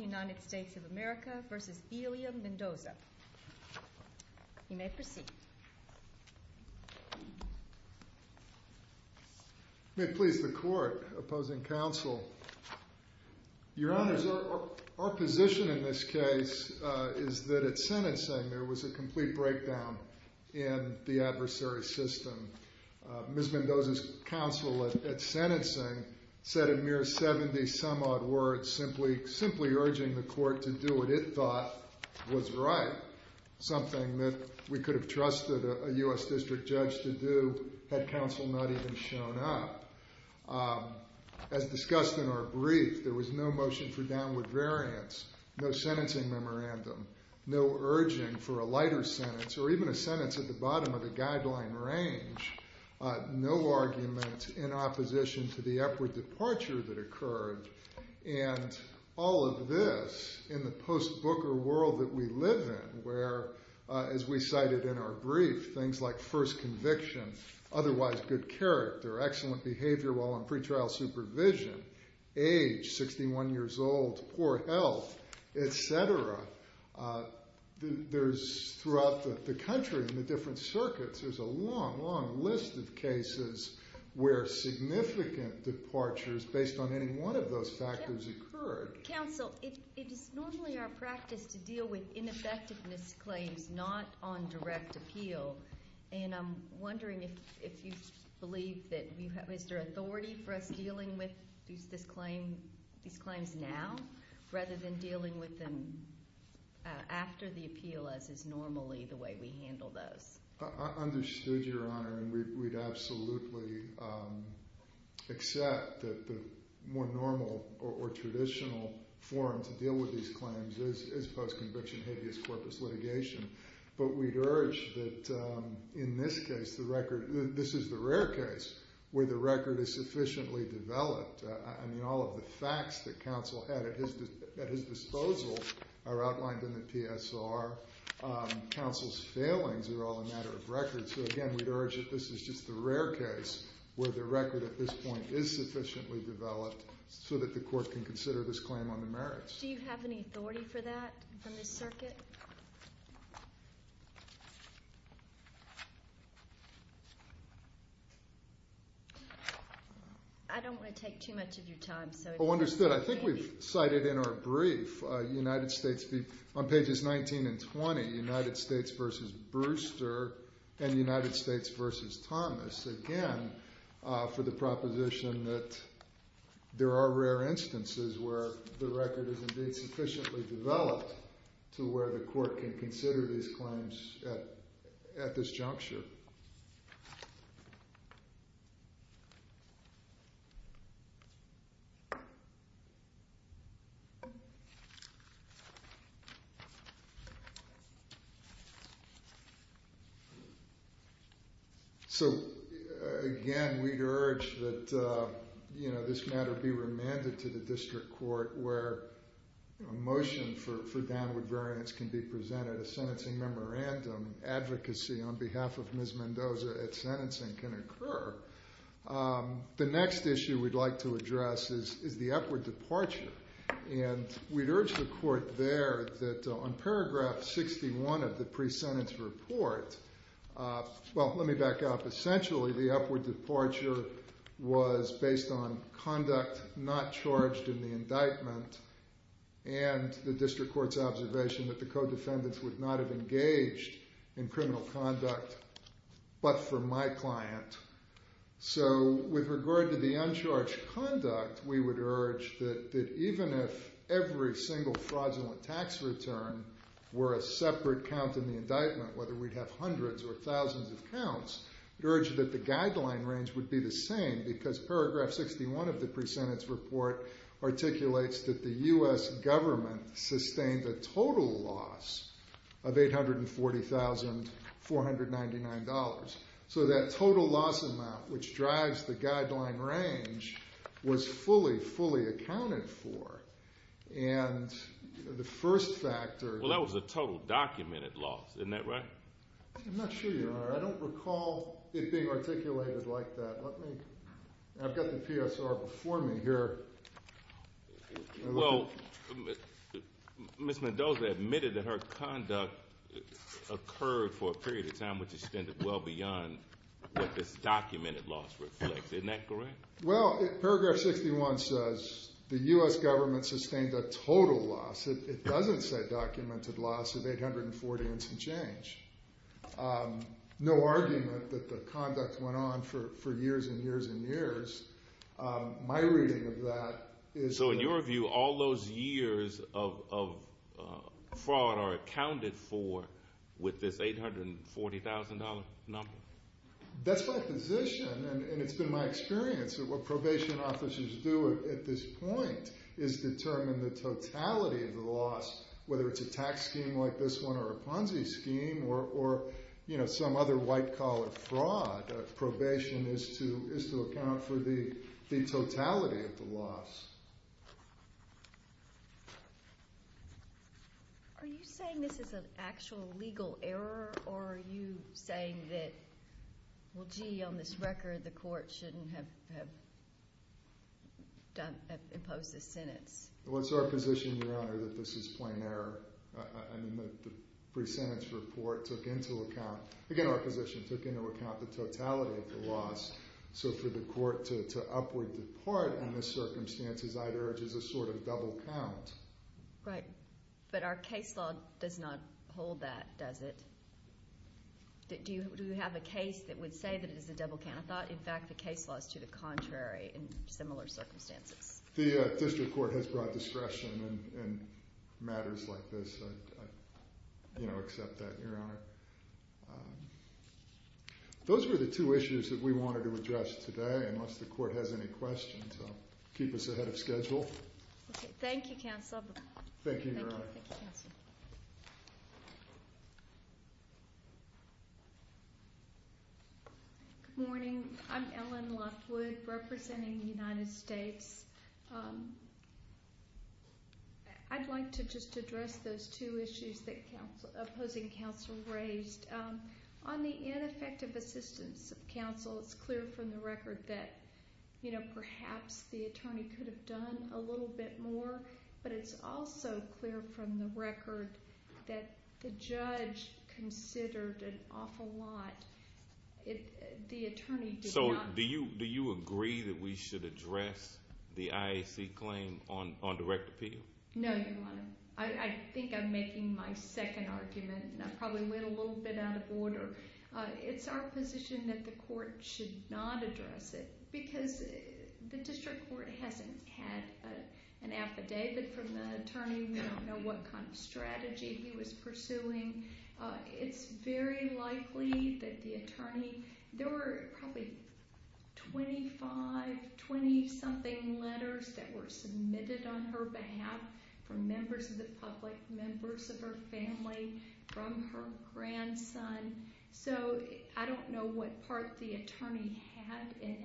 United States of America v. Belia Mendoza. You may proceed. May it please the Court, opposing counsel. Your Honors, our position in this case is that at sentencing there was a complete breakdown in the adversary's system. Ms. Mendoza's counsel at sentencing said a mere 70-some-odd words simply urging the Court to do what it thought was right, something that we could have trusted a U.S. District Judge to do had counsel not even shown up. As discussed in our brief, there was no motion for downward variance, no sentencing memorandum, no urging for a lighter sentence or even a sentence at the bottom of the guideline range, no argument in opposition to the upward departure that occurred. And all of this in the post-Booker world that we live in where, as we cited in our brief, things like first conviction, otherwise good character, excellent behavior while on pretrial supervision, age, 61 years old, poor health, etc., there's throughout the country in the different circuits, there's a long, long list of cases where significant departures based on any one of those factors occurred. Counsel, it is normally our practice to deal with ineffectiveness claims not on direct appeal, and I'm wondering if you believe that you have, is there authority for us dealing with these claims now rather than dealing with them after the appeal as is normally the way we handle those? I understood, Your Honor, and we'd absolutely accept that the more normal or traditional form to deal with these claims is post-conviction habeas corpus litigation, but we'd urge that in this case, the record, this is the rare case where the record is sufficiently developed. I mean, all of the facts that counsel had at his disposal are outlined in the PSR. Counsel's failings are all a matter of record. So, again, we'd urge that this is just the rare case where the record at this point is sufficiently developed so that the court can consider this claim on the merits. Judge, do you have any authority for that in this circuit? I don't want to take too much of your time. Oh, understood. I think we've cited in our brief, on pages 19 and 20, United States v. Brewster and United States v. Thomas, again, for the proposition that there are rare instances where the record is indeed sufficiently developed to where the court can consider these claims at this juncture. So, again, we'd urge that this matter be remanded to the district court where a motion for downward variance can be presented, a sentencing memorandum, advocacy on behalf of Ms. Mendoza at sentencing can occur. The next issue we'd like to address is the upward departure. And we'd urge the court there that on paragraph 61 of the pre-sentence report, well, let me back up. Essentially, the upward departure was based on conduct not charged in the indictment and the district court's observation that the co-defendants would not have engaged in criminal conduct but for my client. So with regard to the uncharged conduct, we would urge that even if every single fraudulent tax return were a separate count in the indictment, whether we'd have hundreds or thousands of counts, we'd urge that the guideline range would be the same because paragraph 61 of the pre-sentence report articulates that the U.S. government sustained a total loss of $840,499. So that total loss amount, which drives the guideline range, was fully, fully accounted for. And the first factor— Well, that was a total documented loss. Isn't that right? I'm not sure you are. I don't recall it being articulated like that. Let me—I've got the PSR before me here. Well, Ms. Mendoza admitted that her conduct occurred for a period of time which extended well beyond what this documented loss reflects. Isn't that correct? Well, paragraph 61 says the U.S. government sustained a total loss. It doesn't say documented loss of 840 and some change. No argument that the conduct went on for years and years and years. My reading of that is— So in your view, all those years of fraud are accounted for with this $840,000 number? That's my position, and it's been my experience that what probation officers do at this point is determine the totality of the loss, whether it's a tax scheme like this one or a Ponzi scheme or some other white-collar fraud. Probation is to account for the totality of the loss. Are you saying this is an actual legal error, or are you saying that, well, gee, on this record, the court shouldn't have imposed this sentence? Well, it's our position, Your Honor, that this is plain error. I mean, the pre-sentence report took into account—again, our position took into account the totality of the loss. So for the court to upward depart on the circumstances, I'd urge a sort of double count. Right. But our case law does not hold that, does it? Do you have a case that would say that it is a double count? I thought, in fact, the case law is to the contrary in similar circumstances. The district court has broad discretion in matters like this. I accept that, Your Honor. Those were the two issues that we wanted to address today, unless the court has any questions. Keep us ahead of schedule. Okay. Thank you, Counsel. Thank you, Your Honor. Good morning. I'm Ellen Lockwood, representing the United States. I'd like to just address those two issues that opposing counsel raised. On the ineffective assistance of counsel, it's clear from the record that perhaps the attorney could have done a little bit more, but it's also clear from the record that the judge considered an awful lot. The attorney did not— So do you agree that we should address the IAC claim on direct appeal? No, Your Honor. I think I'm making my second argument, and I probably went a little bit out of order. It's our position that the court should not address it because the district court hasn't had an affidavit from the attorney. We don't know what kind of strategy he was pursuing. It's very likely that the attorney—there were probably 25, 20-something letters that were submitted on her behalf from members of the public, members of her family, from her grandson. I don't know what part the attorney had in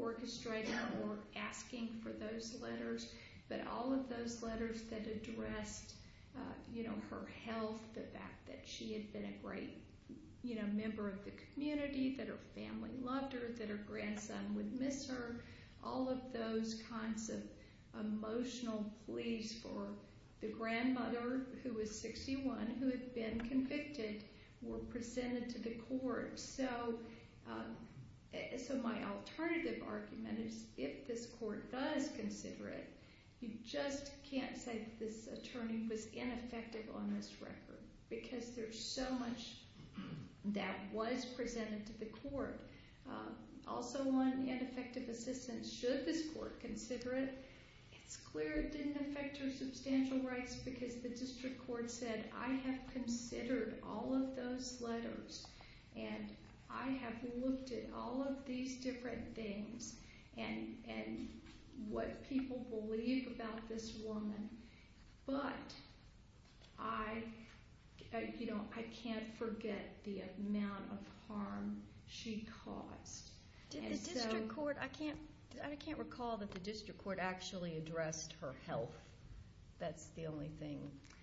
orchestrating or asking for those letters, but all of those letters that addressed her health, the fact that she had been a great member of the community, that her family loved her, that her grandson would miss her, all of those kinds of emotional pleas for the grandmother, who was 61, who had been convicted, was presented to the court. So my alternative argument is if this court does consider it, you just can't say that this attorney was ineffective on this record because there's so much that was presented to the court. Also, on ineffective assistance, should this court consider it, it's clear it didn't affect her substantial rights because the district court said, I have considered all of those letters, and I have looked at all of these different things and what people believe about this woman, but I can't forget the amount of harm she caused. Did the district court—I can't recall that the district court actually addressed her health. That's the only thing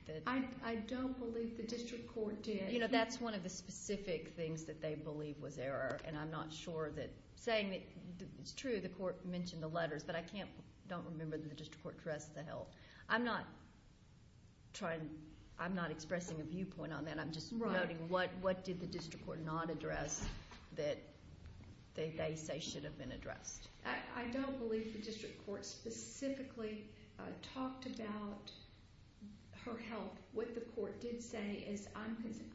that— I don't believe the district court did. That's one of the specific things that they believe was error, and I'm not sure that—saying that it's true, the court mentioned the letters, but I don't remember that the district court addressed the health. I'm not trying—I'm not expressing a viewpoint on that. I'm just noting what did the district court not address that they say should have been addressed. I don't believe the district court specifically talked about her health. What the court did say is,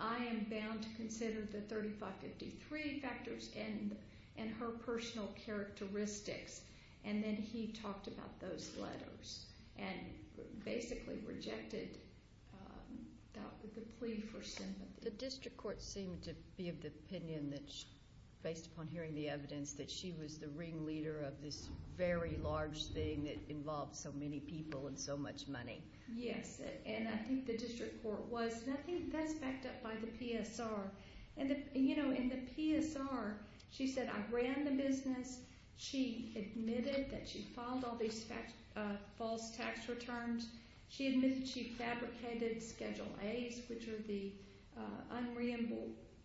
I am bound to consider the 3553 factors and her personal characteristics, and then he talked about those letters and basically rejected the plea for sympathy. The district court seemed to be of the opinion that, based upon hearing the evidence, that she was the ringleader of this very large thing that involved so many people and so much money. Yes, and I think the district court was—and I think that's backed up by the PSR. In the PSR, she said, I ran the business. She admitted that she filed all these false tax returns. She admitted she fabricated Schedule A's, which are the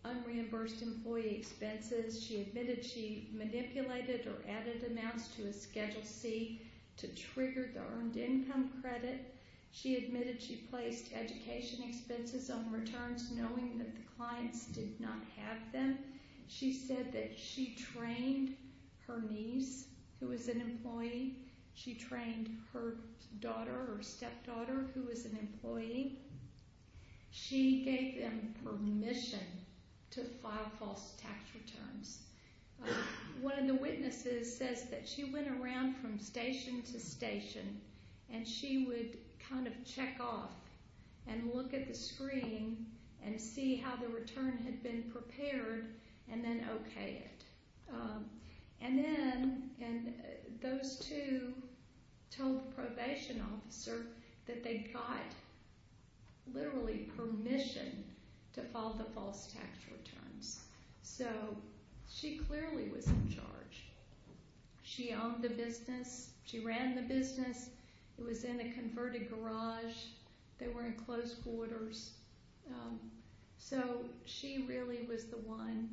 unreimbursed employee expenses. She admitted she manipulated or added amounts to a Schedule C to trigger the earned income credit. She admitted she placed education expenses on returns, knowing that the clients did not have them. She said that she trained her niece, who was an employee. She trained her daughter or stepdaughter, who was an employee. She gave them permission to file false tax returns. One of the witnesses says that she went around from station to station and she would kind of check off and look at the screen and see how the return had been prepared and then okay it. And then those two told the probation officer that they got literally permission to file the false tax returns. So she clearly was in charge. She owned the business. She ran the business. It was in a converted garage. They were in closed quarters. So she really was the one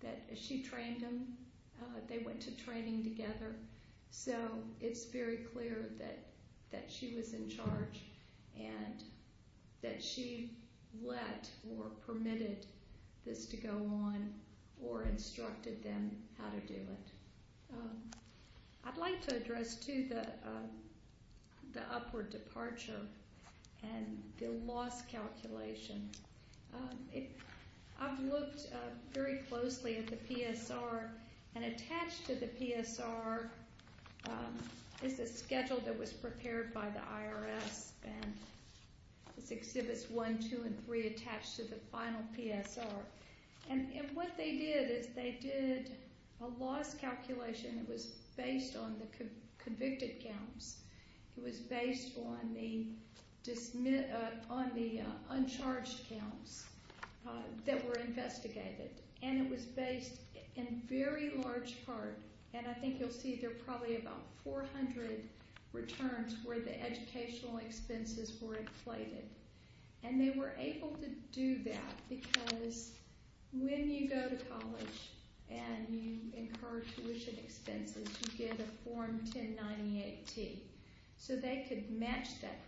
that she trained them. They went to training together. So it's very clear that she was in charge and that she let or permitted this to go on or instructed them how to do it. I'd like to address, too, the upward departure and the loss calculation. I've looked very closely at the PSR and attached to the PSR is a schedule that was prepared by the IRS and it's Exhibits 1, 2, and 3 attached to the final PSR. And what they did is they did a loss calculation. It was based on the convicted counts. It was based on the uncharged counts that were investigated. And it was based in very large part, and I think you'll see there are probably about 400 returns where the educational expenses were inflated. And they were able to do that because when you go to college and you incur tuition expenses, you get a Form 1098-T. So they could match that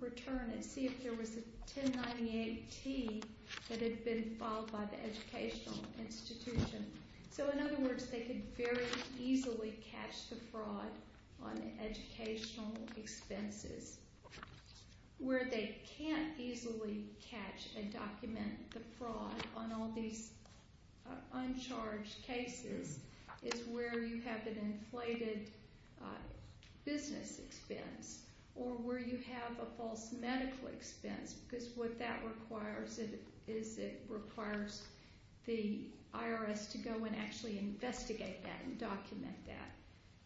return and see if there was a 1098-T that had been filed by the educational institution. So in other words, they could very easily catch the fraud on educational expenses. Where they can't easily catch and document the fraud on all these uncharged cases is where you have an inflated business expense or where you have a false medical expense. Because what that requires is it requires the IRS to go and actually investigate that and document that.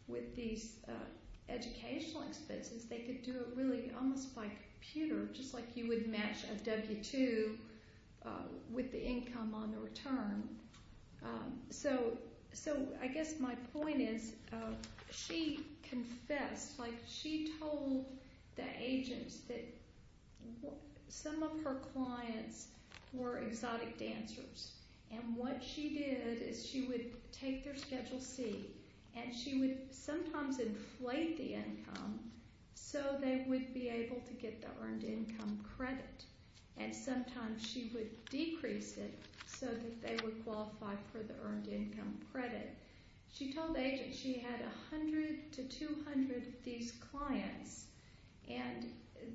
With these educational expenses, they could do it really almost by computer just like you would match a W-2 with the income on the return. So I guess my point is she confessed. She told the agents that some of her clients were exotic dancers. And what she did is she would take their Schedule C and she would sometimes inflate the income so they would be able to get the earned income credit. And sometimes she would decrease it so that they would qualify for the earned income credit. She told the agents she had 100 to 200 of these clients and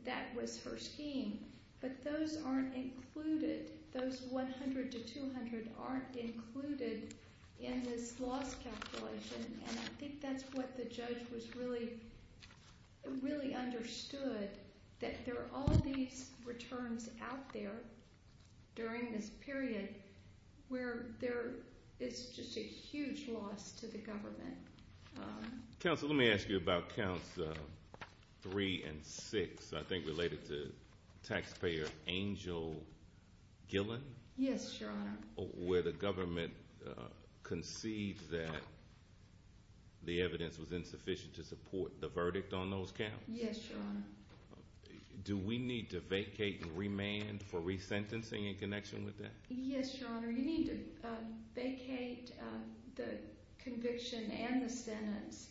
that was her scheme. But those aren't included. Those 100 to 200 aren't included in this loss calculation. And I think that's what the judge really understood that there are all these returns out there during this period where there is just a huge loss to the government. Counsel, let me ask you about counts 3 and 6, I think related to taxpayer Angel Gillen. Yes, Your Honor. Where the government concedes that the evidence was insufficient to support the verdict on those counts. Yes, Your Honor. Do we need to vacate and remand for resentencing in connection with that? Yes, Your Honor. You need to vacate the conviction and the sentence.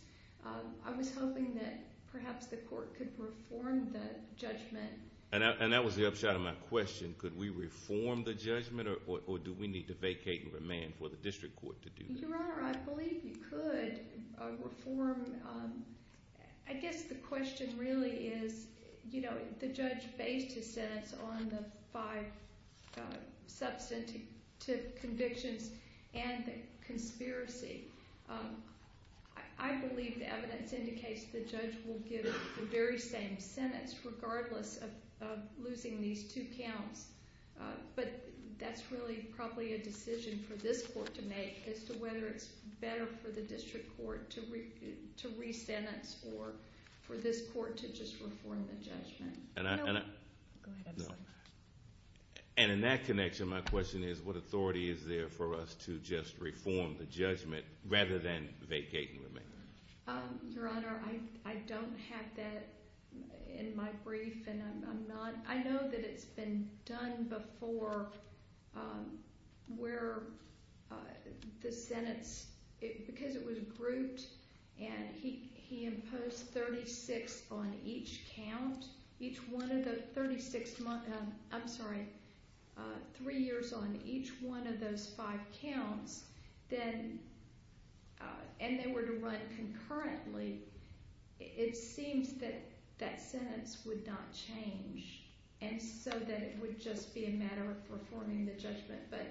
I was hoping that perhaps the court could reform the judgment. And that was the upshot of my question. Could we reform the judgment or do we need to vacate and remand for the district court to do that? Your Honor, I believe you could reform. I guess the question really is, you know, the judge based his sentence on the five substantive convictions and the conspiracy. I believe the evidence indicates the judge will give the very same sentence regardless of losing these two counts. But that's really probably a decision for this court to make as to whether it's better for the district court to resentence or for this court to just reform the judgment. And in that connection, my question is what authority is there for us to just reform the judgment rather than vacate and remand? Your Honor, I don't have that in my brief and I'm not, I know that it's been done before where the sentence, because it was grouped and he imposed 36 on each count, each one of the 36, I'm sorry, three years on each one of those five counts, then, and they were to run concurrently, it seems that that sentence would not change and so that it would just be a matter of reforming the judgment. But,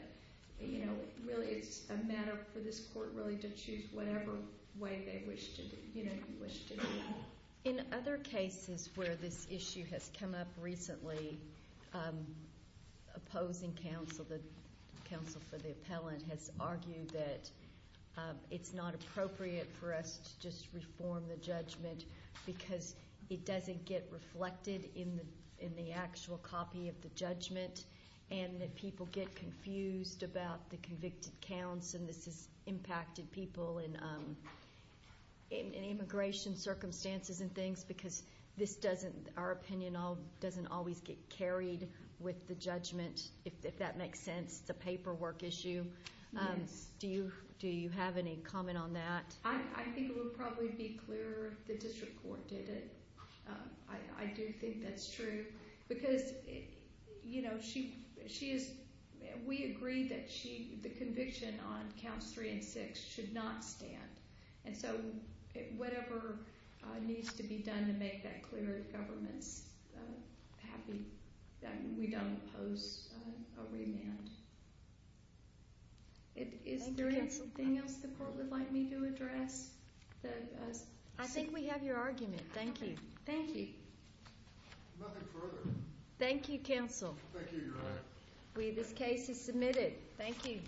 you know, really it's a matter for this court really to choose whatever way they wish to, you know, wish to do it. In other cases where this issue has come up recently, opposing counsel, the counsel for the appellant has argued that it's not appropriate for us to just reform the judgment because it doesn't get reflected in the actual copy of the judgment and that people get confused about the convicted counts. And this has impacted people in immigration circumstances and things because this doesn't, our opinion doesn't always get carried with the judgment, if that makes sense. It's a paperwork issue. Do you have any comment on that? I think it would probably be clearer if the district court did it. I do think that's true because, you know, she is, we agree that she, the conviction on counts three and six should not stand. And so whatever needs to be done to make that clear to governments, we don't oppose a remand. Is there anything else the court would like me to address? I think we have your argument. Thank you. Thank you. Nothing further. Thank you, counsel. Thank you, Your Honor. This case is submitted. Thank you.